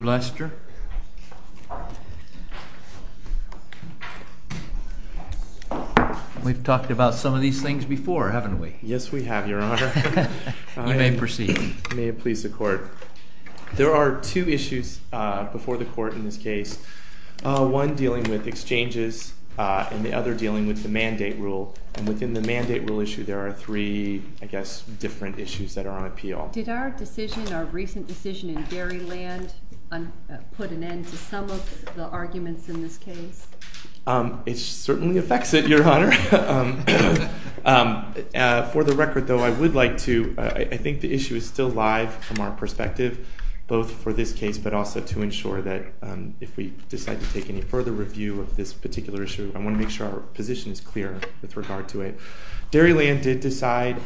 We have talked about some of these things before, haven't we? Yes, we have, Your Honor. You may proceed. May it please the Court. There are two issues before the Court in this case, one dealing with exchanges and the other dealing with the mandate rule. And within the mandate rule issue, there are three, I guess, different issues that are on appeal. Did our decision, our recent decision in Dairyland put an end to some of the arguments in this case? It certainly affects it, Your Honor. For the record, though, I would like to – I think the issue is still live from our perspective, both for this case but also to ensure that if we decide to take any further review of this particular issue, I want to make sure our position is clear with regard to it. Dairyland did decide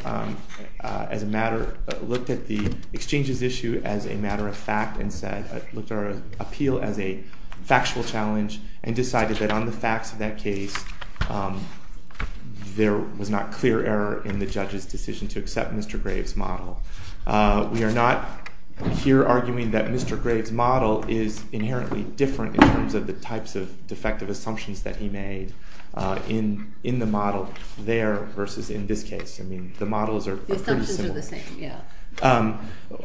as a matter – looked at the exchanges issue as a matter of fact and said – looked at our appeal as a factual challenge and decided that on the facts of that case, there was not clear error in the judge's decision to accept Mr. Graves' model. We are not here arguing that Mr. Graves' model is inherently different in terms of the types of defective assumptions that he made in the model there versus in this case. I mean, the models are pretty similar. The assumptions are the same, yeah.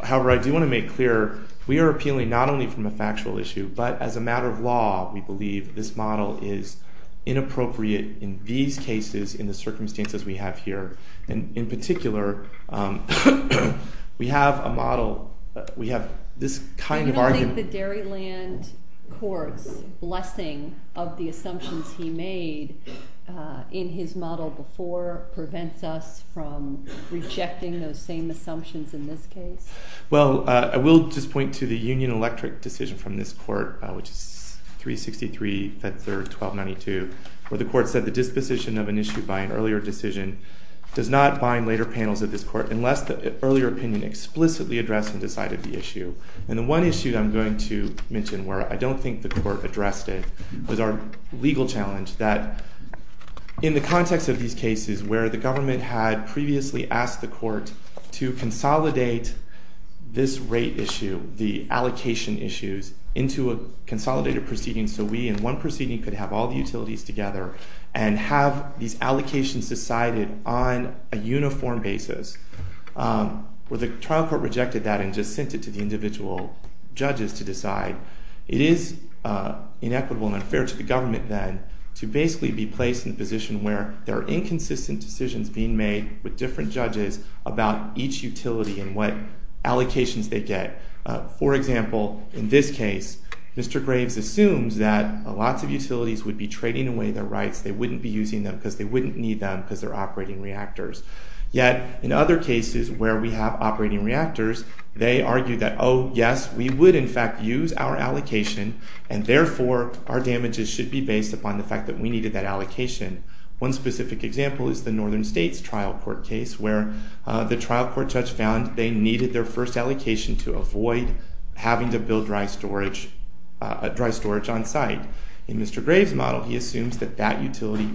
However, I do want to make clear, we are appealing not only from a factual issue, but as a matter of law, we believe this model is inappropriate in these cases in the circumstances we have here. In particular, we have a model – we have this kind of argument – You don't think the Dairyland court's blessing of the assumptions he made in his model before prevents us from rejecting those same assumptions in this case? Well, I will just point to the Union Electric decision from this court, which is 363, Feb. 3, 1292, where the court said the disposition of an issue by an earlier decision does not bind later panels of this court unless the earlier opinion explicitly addressed and decided the issue. And the one issue I'm going to mention where I don't think the court addressed it was our legal challenge that in the context of these cases where the government had previously asked the court to consolidate this rate issue, the allocation issues, into a consolidated proceeding so we in one proceeding could have all the utilities together and have these allocations decided on a uniform basis, where the trial court rejected that and just sent it to the individual judges to decide, it is inequitable and unfair to the government then to basically be placed in a position where there are inconsistent decisions being made with different judges about each utility and what allocations they get. For example, in this case, Mr. Graves assumes that lots of utilities would be trading away their rights. They wouldn't be using them because they wouldn't need them because they're operating reactors. Yet in other cases where we have operating reactors, they argue that, oh, yes, we would in fact use our allocation and therefore our damages should be based upon the fact that we needed that allocation. One specific example is the Northern States trial court case where the trial court judge found they needed their first allocation to avoid having to build dry storage on site. In Mr. Graves' model, he assumes that that utility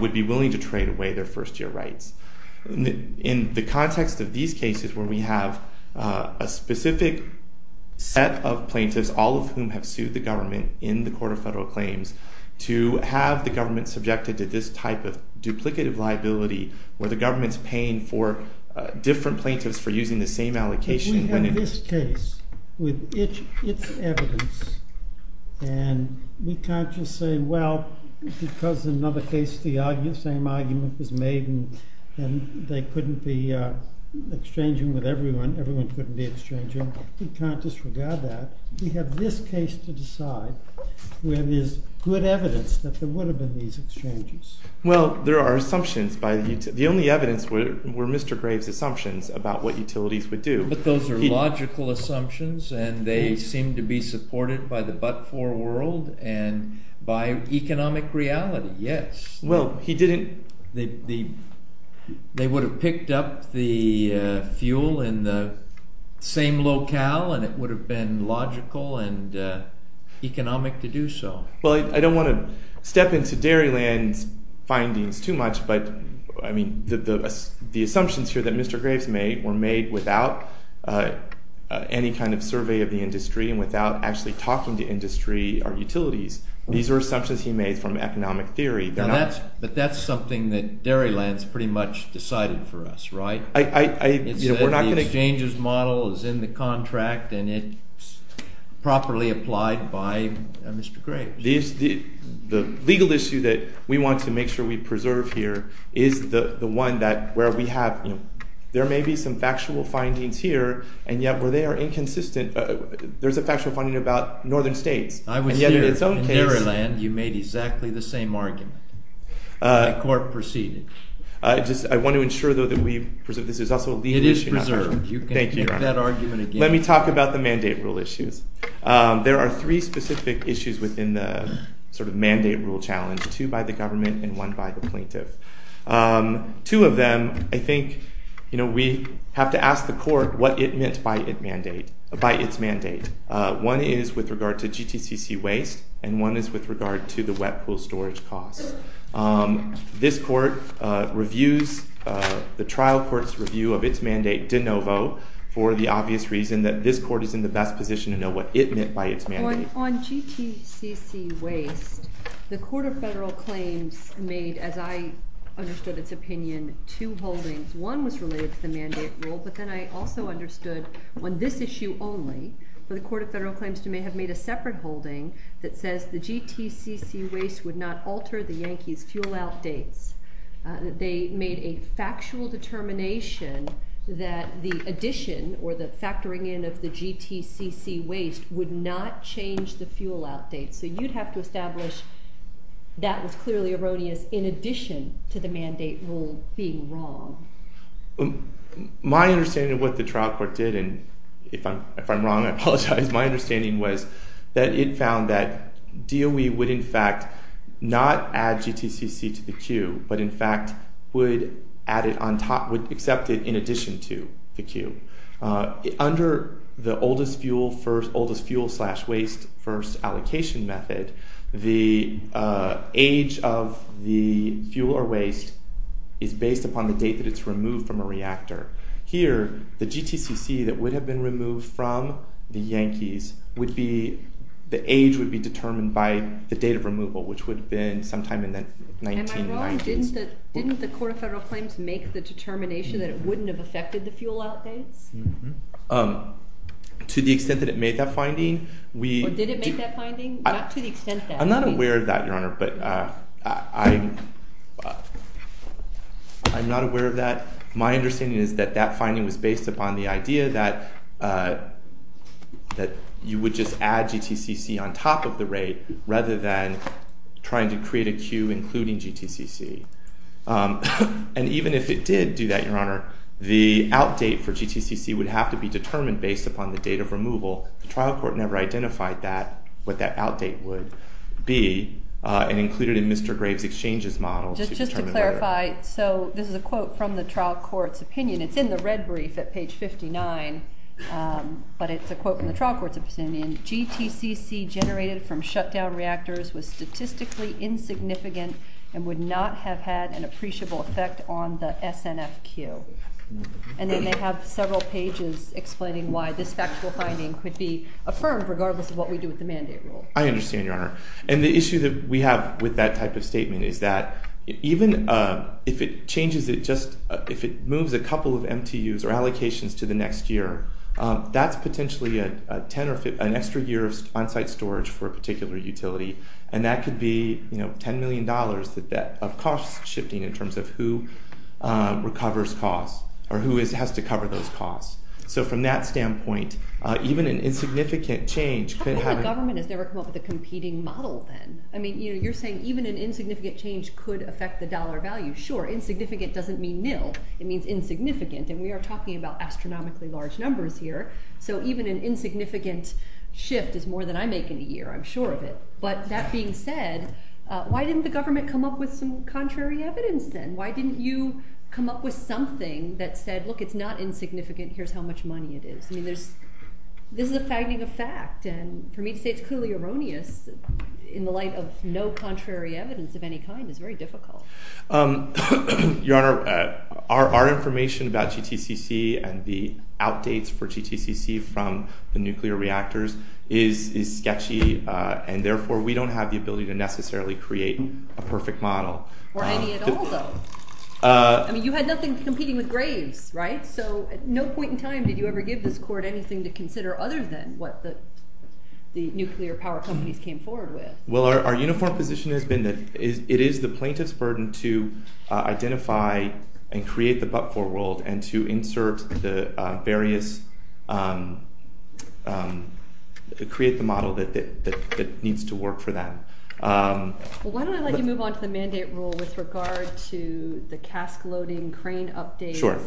would be willing to trade away their first year rights. In the context of these cases where we have a specific set of plaintiffs, all of whom have sued the government in the Court of Federal Claims, to have the government subjected to this type of duplicative liability where the government is paying for different plaintiffs for using the same allocation... ...with its evidence, and we can't just say, well, because in another case the same argument was made and they couldn't be exchanging with everyone, everyone couldn't be exchanging, we can't disregard that. We have this case to decide where there's good evidence that there would have been these exchanges. Well, there are assumptions. The only evidence were Mr. Graves' assumptions about what utilities would do. But those are logical assumptions and they seem to be supported by the but-for world and by economic reality, yes. Well, he didn't... They would have picked up the fuel in the same locale and it would have been logical and economic to do so. Well, I don't want to step into Dairyland's findings too much, but the assumptions here that Mr. Graves made were made without any kind of survey of the industry and without actually talking to industry or utilities. These are assumptions he made from economic theory. But that's something that Dairyland's pretty much decided for us, right? The exchanges model is in the contract and it's properly applied by Mr. Graves. The legal issue that we want to make sure we preserve here is the one that where we have, you know, there may be some factual findings here and yet where they are inconsistent, there's a factual finding about northern states. I was here in Dairyland, you made exactly the same argument. The court proceeded. I want to ensure, though, that we preserve. This is also a legal issue. It is preserved. Thank you, Your Honor. You can make that argument again. Let me talk about the mandate rule issues. There are three specific issues within the sort of mandate rule challenge, two by the government and one by the plaintiff. Two of them, I think, you know, we have to ask the court what it meant by its mandate. One is with regard to GTCC waste and one is with regard to the wet pool storage costs. This court reviews the trial court's review of its mandate de novo for the obvious reason that this court is in the best position to know what it meant by its mandate. On GTCC waste, the Court of Federal Claims made, as I understood its opinion, two holdings. One was related to the mandate rule, but then I also understood when this issue only, the Court of Federal Claims may have made a separate holding that says the GTCC waste would not alter the Yankees' fuel outdates. They made a factual determination that the addition or the factoring in of the GTCC waste would not change the fuel outdates. So you'd have to establish that was clearly erroneous in addition to the mandate rule being wrong. My understanding of what the trial court did, and if I'm wrong, I apologize, my understanding was that it found that DOE would in fact not add GTCC to the queue, but in fact would add it on top, would accept it in addition to the queue. Under the oldest fuel first, oldest fuel slash waste first allocation method, the age of the fuel or waste is based upon the date that it's removed from a reactor. Here, the GTCC that would have been removed from the Yankees would be, the age would be determined by the date of removal, which would have been sometime in the 1990s. Am I wrong? Didn't the court of federal claims make the determination that it wouldn't have affected the fuel outdates? To the extent that it made that finding, we... Or did it make that finding? Not to the extent that... I'm not aware of that, Your Honor, but I'm not aware of that. My understanding is that that finding was based upon the idea that you would just add GTCC on top of the rate rather than trying to create a queue including GTCC. And even if it did do that, Your Honor, the outdate for GTCC would have to be determined based upon the date of removal. The trial court never identified that, what that outdate would be, and included in Mr. Graves' exchange's model to determine whether... Just to clarify, so this is a quote from the trial court's opinion. It's in the red brief at page 59, but it's a quote from the trial court's opinion. GTCC generated from shutdown reactors was statistically insignificant and would not have had an appreciable effect on the SNF queue. And then they have several pages explaining why this factual finding could be affirmed regardless of what we do with the mandate rule. I understand, Your Honor. And the issue that we have with that type of statement is that even if it changes it just... or allocations to the next year, that's potentially an extra year of onsite storage for a particular utility, and that could be $10 million of cost shifting in terms of who recovers costs or who has to cover those costs. So from that standpoint, even an insignificant change could have... How come the government has never come up with a competing model then? I mean, you're saying even an insignificant change could affect the dollar value. Sure, insignificant doesn't mean nil. It means insignificant, and we are talking about astronomically large numbers here. So even an insignificant shift is more than I make in a year. I'm sure of it. But that being said, why didn't the government come up with some contrary evidence then? Why didn't you come up with something that said, look, it's not insignificant. Here's how much money it is. I mean, this is a finding of fact, and for me to say it's clearly erroneous in the light of no contrary evidence of any kind is very difficult. Your Honor, our information about GTCC and the outdates for GTCC from the nuclear reactors is sketchy, and therefore we don't have the ability to necessarily create a perfect model. Or any at all, though. I mean, you had nothing competing with Graves, right? So at no point in time did you ever give this court anything to consider other than what the nuclear power companies came forward with. Well, our uniform position has been that it is the plaintiff's burden to identify and create the but-for world and to create the model that needs to work for them. Well, why don't I let you move on to the mandate rule with regard to the cask-loading crane updates? Sure.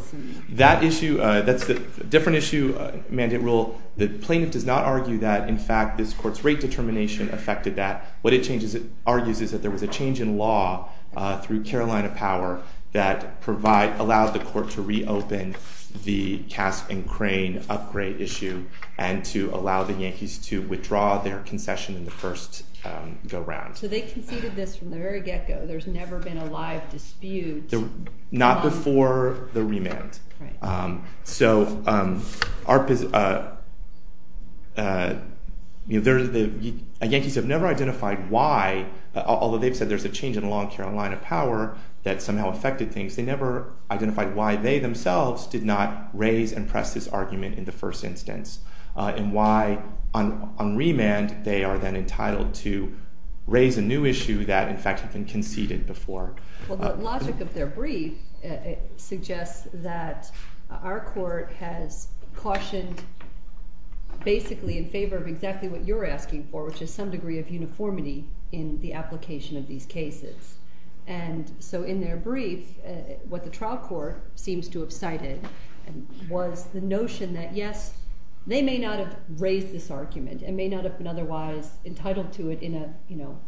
That's a different issue, mandate rule. The plaintiff does not argue that, in fact, this court's rate determination affected that. What it argues is that there was a change in law through Carolina Power that allowed the court to reopen the cask and crane upgrade issue and to allow the Yankees to withdraw their concession in the first go-round. So they conceded this from the very get-go. There's never been a live dispute. Not before the remand. So the Yankees have never identified why, although they've said there's a change in law in Carolina Power that somehow affected things, they never identified why they themselves did not raise and press this argument in the first instance and why on remand they are then entitled to raise a new issue that, in fact, had been conceded before. Well, the logic of their brief suggests that our court has cautioned basically in favor of exactly what you're asking for, which is some degree of uniformity in the application of these cases. And so in their brief, what the trial court seems to have cited was the notion that, yes, they may not have raised this argument and may not have been otherwise entitled to it in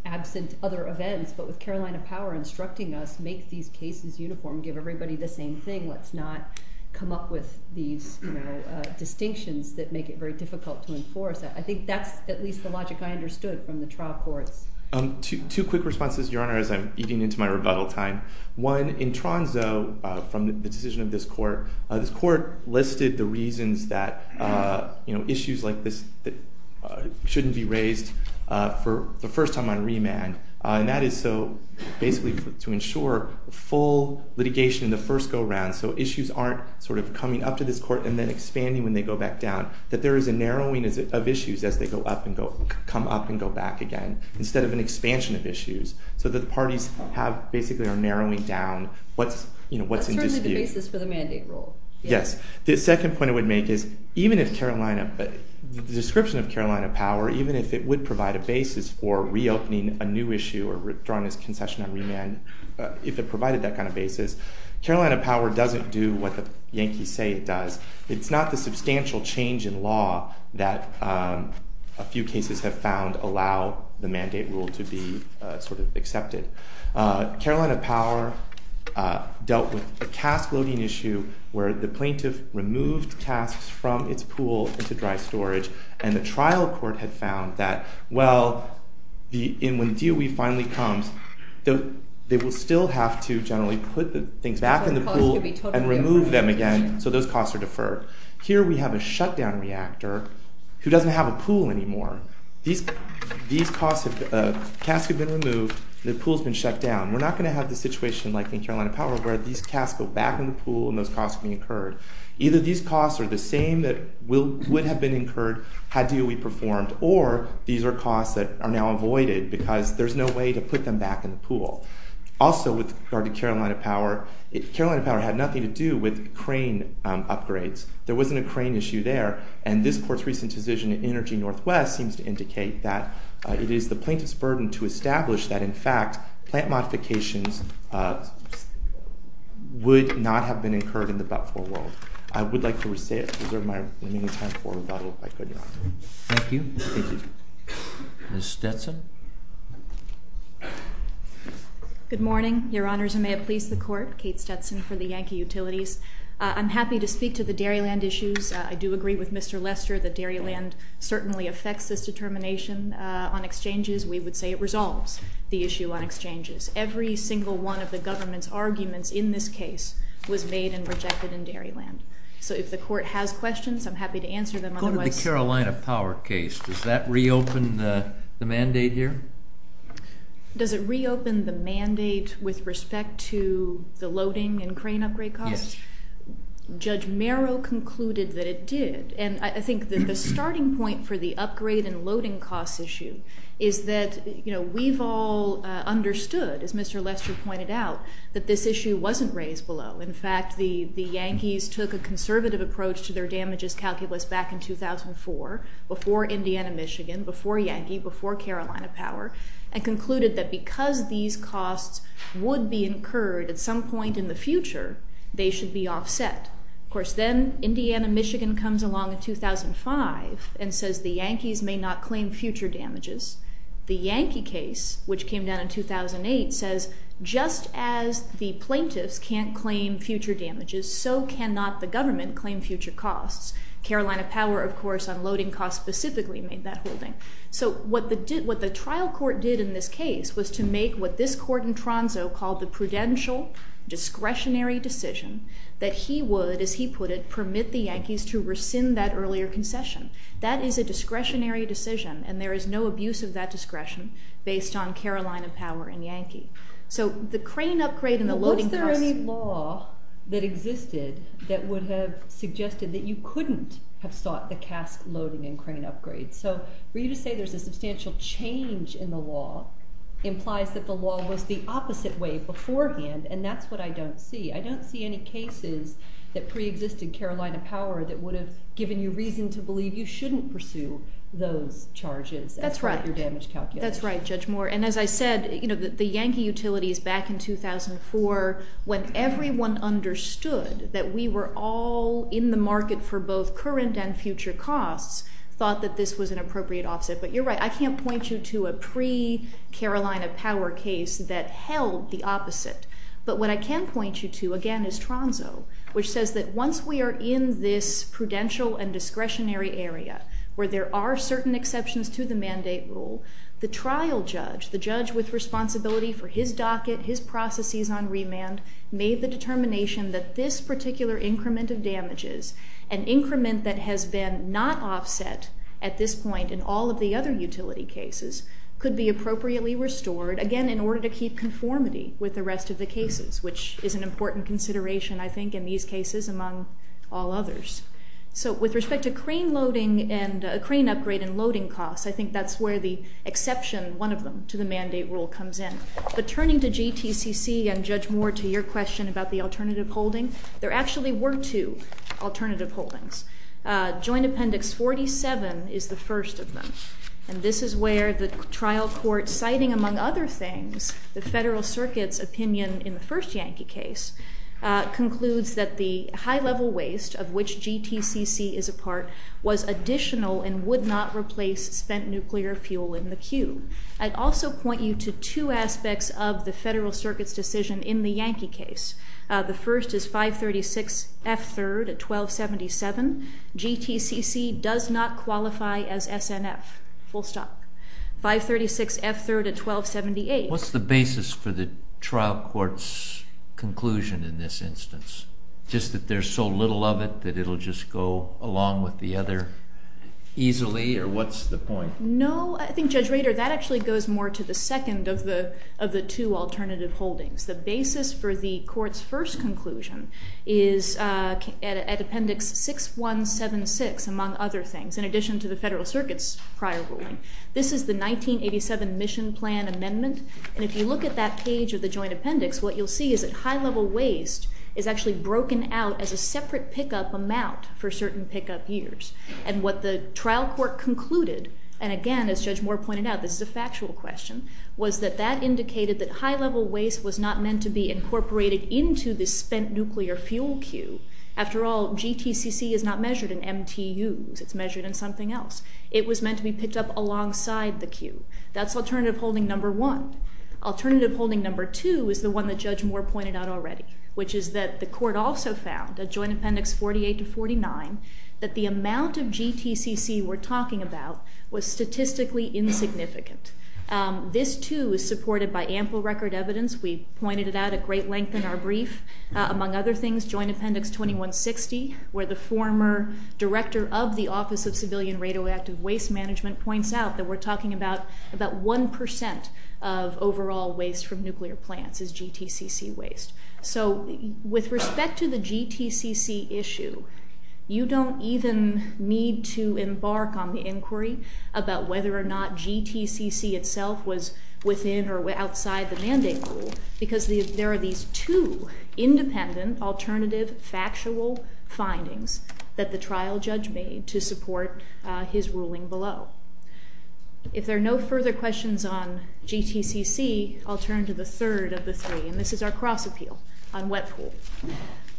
absent other events, but with Carolina Power instructing us, make these cases uniform, give everybody the same thing. Let's not come up with these distinctions that make it very difficult to enforce. I think that's at least the logic I understood from the trial courts. Two quick responses, Your Honor, as I'm eating into my rebuttal time. One, in Tronzo, from the decision of this court, this court listed the reasons that issues like this shouldn't be raised for the first time on remand. And that is so basically to ensure full litigation in the first go-around, so issues aren't sort of coming up to this court and then expanding when they go back down, that there is a narrowing of issues as they come up and go back again, instead of an expansion of issues, so that the parties basically are narrowing down what's in dispute. That's certainly the basis for the mandate rule. Yes. The second point I would make is, the description of Carolina Power, even if it would provide a basis for reopening a new issue or withdrawing this concession on remand, if it provided that kind of basis, Carolina Power doesn't do what the Yankees say it does. It's not the substantial change in law that a few cases have found allow the mandate rule to be sort of accepted. Carolina Power dealt with the cask loading issue, where the plaintiff removed casks from its pool into dry storage, and the trial court had found that, well, when DOE finally comes, they will still have to generally put the things back in the pool and remove them again, so those costs are deferred. Here we have a shutdown reactor who doesn't have a pool anymore. These casks have been removed, the pool's been shut down. We're not going to have the situation like in Carolina Power, where these casks go back in the pool and those costs are incurred. Either these costs are the same that would have been incurred had DOE performed, or these are costs that are now avoided because there's no way to put them back in the pool. Also, with regard to Carolina Power, Carolina Power had nothing to do with crane upgrades. There wasn't a crane issue there, and this court's recent decision in Energy Northwest seems to indicate that it is the plaintiff's burden to establish that, in fact, plant modifications would not have been incurred in the but-for world. I would like to reserve my remaining time for rebuttal if I could, Your Honor. Thank you. Ms. Stetson? Good morning, Your Honors, and may it please the Court. Kate Stetson for the Yankee Utilities. I'm happy to speak to the dairy land issues. I do agree with Mr. Lester that dairy land certainly affects this determination on exchanges. We would say it resolves the issue on exchanges. Every single one of the government's arguments in this case was made and rejected in dairy land. So if the Court has questions, I'm happy to answer them. Going to the Carolina Power case, does that reopen the mandate here? Does it reopen the mandate with respect to the loading and crane upgrade costs? Yes. Judge Merrow concluded that it did. And I think that the starting point for the upgrade and loading costs issue is that, you know, we've all understood, as Mr. Lester pointed out, that this issue wasn't raised below. In fact, the Yankees took a conservative approach to their damages calculus back in 2004, before Indiana-Michigan, before Yankee, before Carolina Power, and concluded that because these costs would be incurred at some point in the future, they should be offset. Of course, then Indiana-Michigan comes along in 2005 and says the Yankees may not claim future damages. The Yankee case, which came down in 2008, says just as the plaintiffs can't claim future damages, so cannot the government claim future costs. Carolina Power, of course, on loading costs specifically made that holding. So what the trial court did in this case was to make what this court in Tronso called the prudential discretionary decision that he would, as he put it, permit the Yankees to rescind that earlier concession. That is a discretionary decision, and there is no abuse of that discretion based on Carolina Power and Yankee. So the crane upgrade and the loading costs... But was there any law that existed that would have suggested that you couldn't have sought the cask loading and crane upgrades? So for you to say there's a substantial change in the law implies that the law was the opposite way beforehand, and that's what I don't see. I don't see any cases that preexisted Carolina Power that would have given you reason to believe you shouldn't pursue those charges... That's right. ...as part of your damage calculation. That's right, Judge Moore. And as I said, the Yankee utilities back in 2004, when everyone understood that we were all in the market for both current and future costs, thought that this was an appropriate offset. But you're right, I can't point you to a pre-Carolina Power case that held the opposite. But what I can point you to, again, is Tronso, which says that once we are in this prudential and discretionary area where there are certain exceptions to the mandate rule, the trial judge, the judge with responsibility for his docket, his processes on remand, made the determination that this particular increment of damages, an increment that has been not offset at this point in all of the other utility cases, could be appropriately restored, again, in order to keep conformity with the rest of the cases, which is an important consideration, I think, in these cases among all others. So with respect to crane loading and crane upgrade and loading costs, I think that's where the exception, one of them, to the mandate rule comes in. But turning to GTCC and, Judge Moore, to your question about the alternative holding, there actually were two alternative holdings. Joint Appendix 47 is the first of them. And this is where the trial court, citing, among other things, the Federal Circuit's opinion in the first Yankee case, concludes that the high-level waste of which GTCC is a part was additional and would not replace spent nuclear fuel in the queue. I'd also point you to two aspects of the Federal Circuit's decision in the Yankee case. The first is 536F3 at 1277. GTCC does not qualify as SNF, full stop. 536F3 at 1278. What's the basis for the trial court's conclusion in this instance? Just that there's so little of it that it will just go along with the other easily? Or what's the point? No, I think, Judge Rader, that actually goes more to the second of the two alternative holdings. The basis for the court's first conclusion is at Appendix 6176, among other things, in addition to the Federal Circuit's prior ruling. This is the 1987 Mission Plan Amendment. And if you look at that page of the joint appendix, what you'll see is that high-level waste is actually broken out as a separate pickup amount for certain pickup years. And what the trial court concluded, and again, as Judge Moore pointed out, this is a factual question, was that that indicated that high-level waste was not meant to be incorporated into the spent nuclear fuel queue. After all, GTCC is not measured in MTUs. It's measured in something else. It was meant to be picked up alongside the queue. That's alternative holding number one. Alternative holding number two is the one that Judge Moore pointed out already, which is that the court also found, at Joint Appendix 48 to 49, that the amount of GTCC we're talking about was statistically insignificant. This, too, is supported by ample record evidence. We pointed it out at great length in our brief. Among other things, Joint Appendix 2160, where the former director of the Office of Civilian Radioactive Waste Management points out that we're talking about 1% of overall waste from nuclear plants is GTCC waste. So with respect to the GTCC issue, you don't even need to embark on the inquiry about whether or not GTCC itself was within or outside the mandate rule because there are these two independent alternative factual findings that the trial judge made to support his ruling below. If there are no further questions on GTCC, I'll turn to the third of the three, and this is our cross-appeal on wet pool.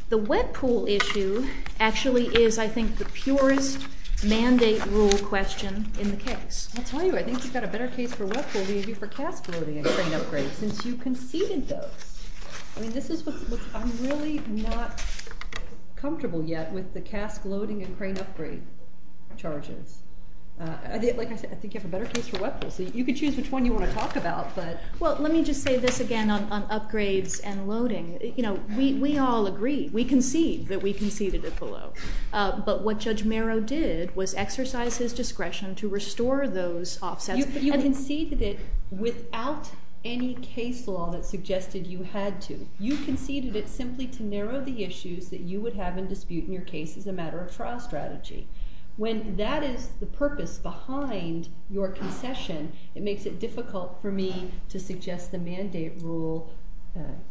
The wet pool issue actually is, I think, the purest mandate rule question in the case. I'll tell you, I think you've got a better case for wet pool than you do for cask loading and crane upgrades since you conceded those. I mean, this is what I'm really not comfortable yet with the cask loading and crane upgrade charges. Like I said, I think you have a better case for wet pool. So you can choose which one you want to talk about. Well, let me just say this again on upgrades and loading. We all agree. We concede that we conceded it below. But what Judge Marrow did was exercise his discretion to restore those offsets. You conceded it without any case law that suggested you had to. You conceded it simply to narrow the issues that you would have in dispute in your case as a matter of trial strategy. When that is the purpose behind your concession, it makes it difficult for me to suggest the mandate rule.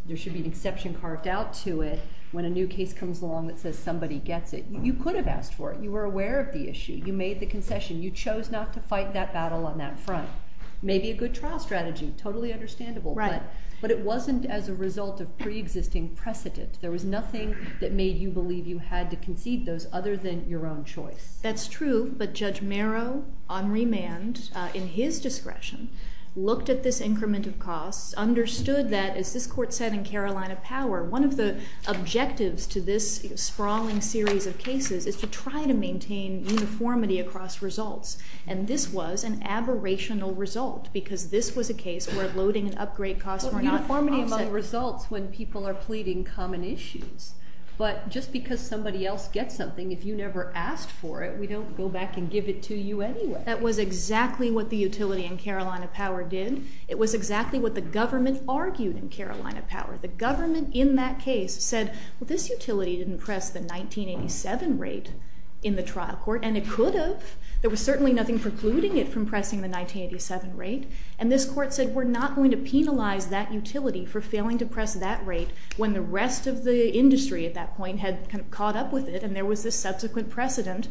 There should be an exception carved out to it when a new case comes along that says somebody gets it. You could have asked for it. You were aware of the issue. You made the concession. You chose not to fight that battle on that front. Maybe a good trial strategy, totally understandable. Right. But it wasn't as a result of preexisting precedent. There was nothing that made you believe you had to concede those other than your own choice. That's true. But Judge Marrow, on remand, in his discretion, looked at this increment of costs, understood that, as this court said in Carolina Power, one of the objectives to this sprawling series of cases is to try to maintain uniformity across results. And this was an aberrational result because this was a case where loading and upgrade costs were not offset. Well, uniformity among results when people are pleading common issues. But just because somebody else gets something, if you never asked for it, we don't go back and give it to you anyway. That was exactly what the utility in Carolina Power did. It was exactly what the government argued in Carolina Power. The government in that case said, well, this utility didn't press the 1987 rate in the trial court, and it could have. There was certainly nothing precluding it from pressing the 1987 rate. And this court said, we're not going to penalize that utility for failing to press that rate when the rest of the industry at that point had caught up with it, and there was this subsequent precedent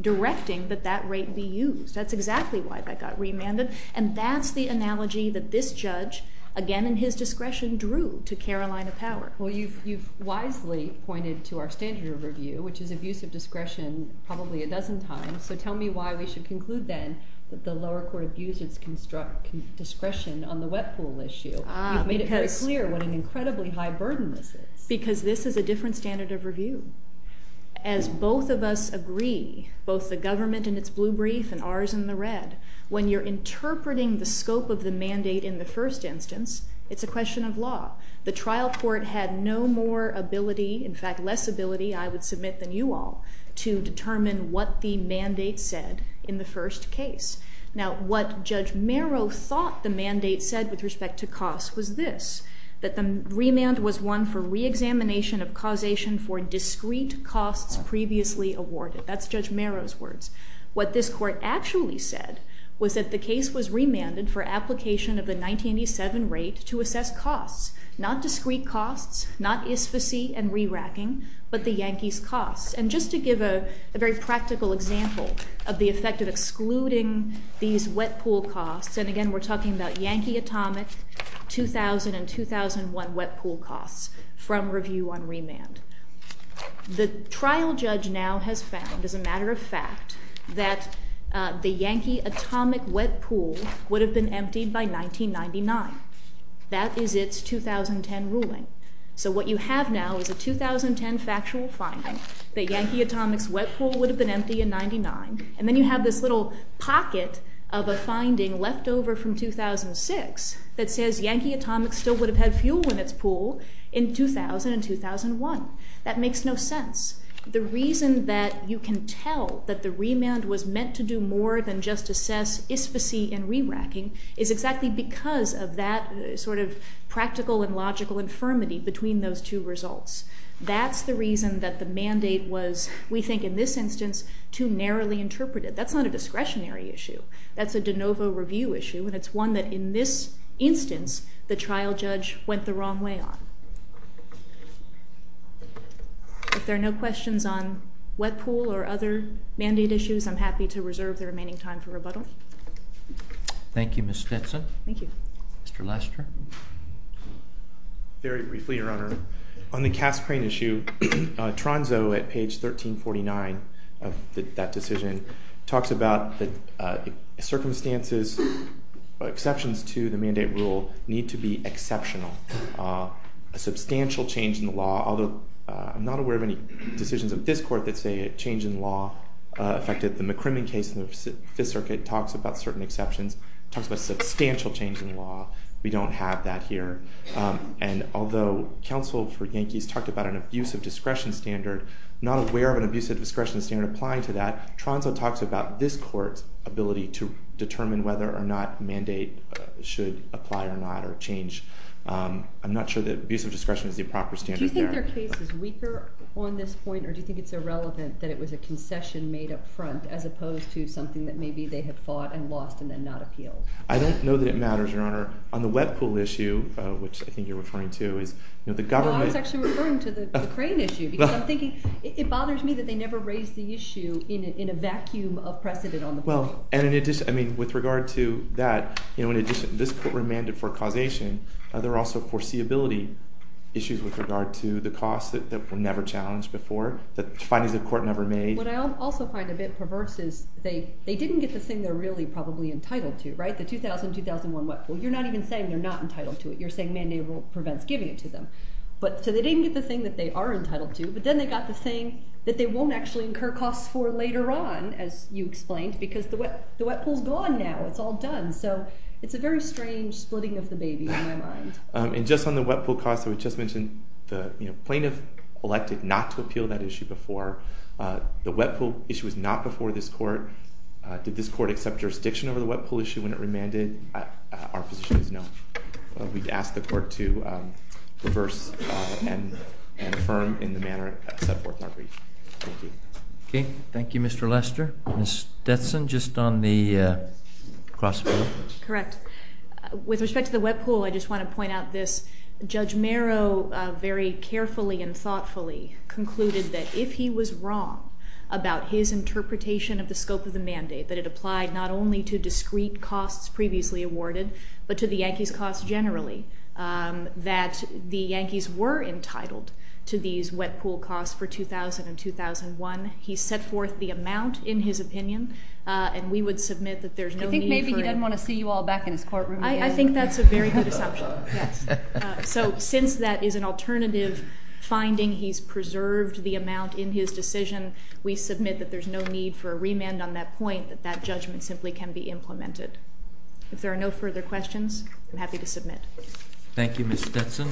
directing that that rate be used. That's exactly why that got remanded. And that's the analogy that this judge, again in his discretion, drew to Carolina Power. Well, you've wisely pointed to our standard of review, which is abuse of discretion probably a dozen times. So tell me why we should conclude then that the lower court abused its discretion on the wet pool issue. You've made it very clear what an incredibly high burden this is. Because this is a different standard of review. As both of us agree, both the government in its blue brief and ours in the red, when you're interpreting the scope of the mandate in the first instance, it's a question of law. The trial court had no more ability, in fact, less ability, I would submit, than you all, to determine what the mandate said in the first case. Now, what Judge Merrow thought the mandate said with respect to cost was this, that the remand was one for reexamination of causation for discrete costs previously awarded. That's Judge Merrow's words. What this court actually said was that the case was remanded for application of the 1987 rate to assess costs, not discrete costs, not isfasy and re-racking, but the Yankees' costs. And just to give a very practical example of the effect of excluding these wet pool costs, and again, we're talking about Yankee Atomic 2000 and 2001 wet pool costs from review on remand. The trial judge now has found, as a matter of fact, that the Yankee Atomic wet pool would have been emptied by 1999. That is its 2010 ruling. So what you have now is a 2010 factual finding that Yankee Atomic's wet pool would have been empty in 99, and then you have this little pocket of a finding left over from 2006 that says Yankee Atomic still would have had fuel in its pool in 2000 and 2001. That makes no sense. The reason that you can tell that the remand was meant to do more than just assess isfasy and re-racking is exactly because of that sort of practical and logical infirmity between those two results. That's the reason that the mandate was, we think in this instance, too narrowly interpreted. That's not a discretionary issue. That's a de novo review issue, and it's one that in this instance the trial judge went the wrong way on. If there are no questions on wet pool or other mandate issues, I'm happy to reserve the remaining time for rebuttal. Thank you, Ms. Stetson. Thank you. Mr. Lester. Very briefly, Your Honor. On the cask crane issue, Tronzo at page 1349 of that decision talks about the circumstances, exceptions to the mandate rule need to be exceptional. A substantial change in the law, although I'm not aware of any decisions of this court that say a change in law affected the McCrimmon case in the Fifth Circuit, talks about certain exceptions, talks about substantial change in law. We don't have that here. And although counsel for Yankees talked about an abusive discretion standard, not aware of an abusive discretion standard applying to that, Tronzo talks about this court's ability to determine whether or not mandate should apply or not or change. I'm not sure that abusive discretion is the proper standard there. Do you think their case is weaker on this point, or do you think it's irrelevant that it was a concession made up front as opposed to something that maybe they have fought and lost and then not appealed? I don't know that it matters, Your Honor. On the web pool issue, which I think you're referring to, is the government— Well, I was actually referring to the crane issue because I'm thinking it bothers me that they never raised the issue in a vacuum of precedent on the board. Well, and in addition, I mean, with regard to that, you know, in addition, this court remanded for causation. There are also foreseeability issues with regard to the costs that were never challenged before, the findings the court never made. What I also find a bit perverse is they didn't get the thing they're really probably entitled to, right, the 2000-2001 web pool. You're not even saying they're not entitled to it. You're saying mandatory prevents giving it to them. So they didn't get the thing that they are entitled to, but then they got the thing that they won't actually incur costs for later on, as you explained, because the web pool's gone now. It's all done. So it's a very strange splitting of the baby in my mind. And just on the web pool cost, we just mentioned the plaintiff elected not to appeal that issue before. The web pool issue was not before this court. Did this court accept jurisdiction over the web pool issue when it remanded? Our position is no. We'd ask the court to reverse and affirm in the manner set forth in our brief. Thank you. Okay. Thank you, Mr. Lester. Ms. Detson, just on the cross-poll? Correct. With respect to the web pool, I just want to point out this. Judge Merrow very carefully and thoughtfully concluded that if he was wrong about his interpretation of the scope of the mandate, that it applied not only to discrete costs previously awarded, but to the Yankees' costs generally, that the Yankees were entitled to these web pool costs for 2000 and 2001. He set forth the amount in his opinion, and we would submit that there's no need for it. I think maybe he doesn't want to see you all back in his courtroom again. I think that's a very good assumption, yes. So since that is an alternative finding, he's preserved the amount in his decision. We submit that there's no need for a remand on that point, that that judgment simply can be implemented. If there are no further questions, I'm happy to submit. Thank you, Ms. Detson.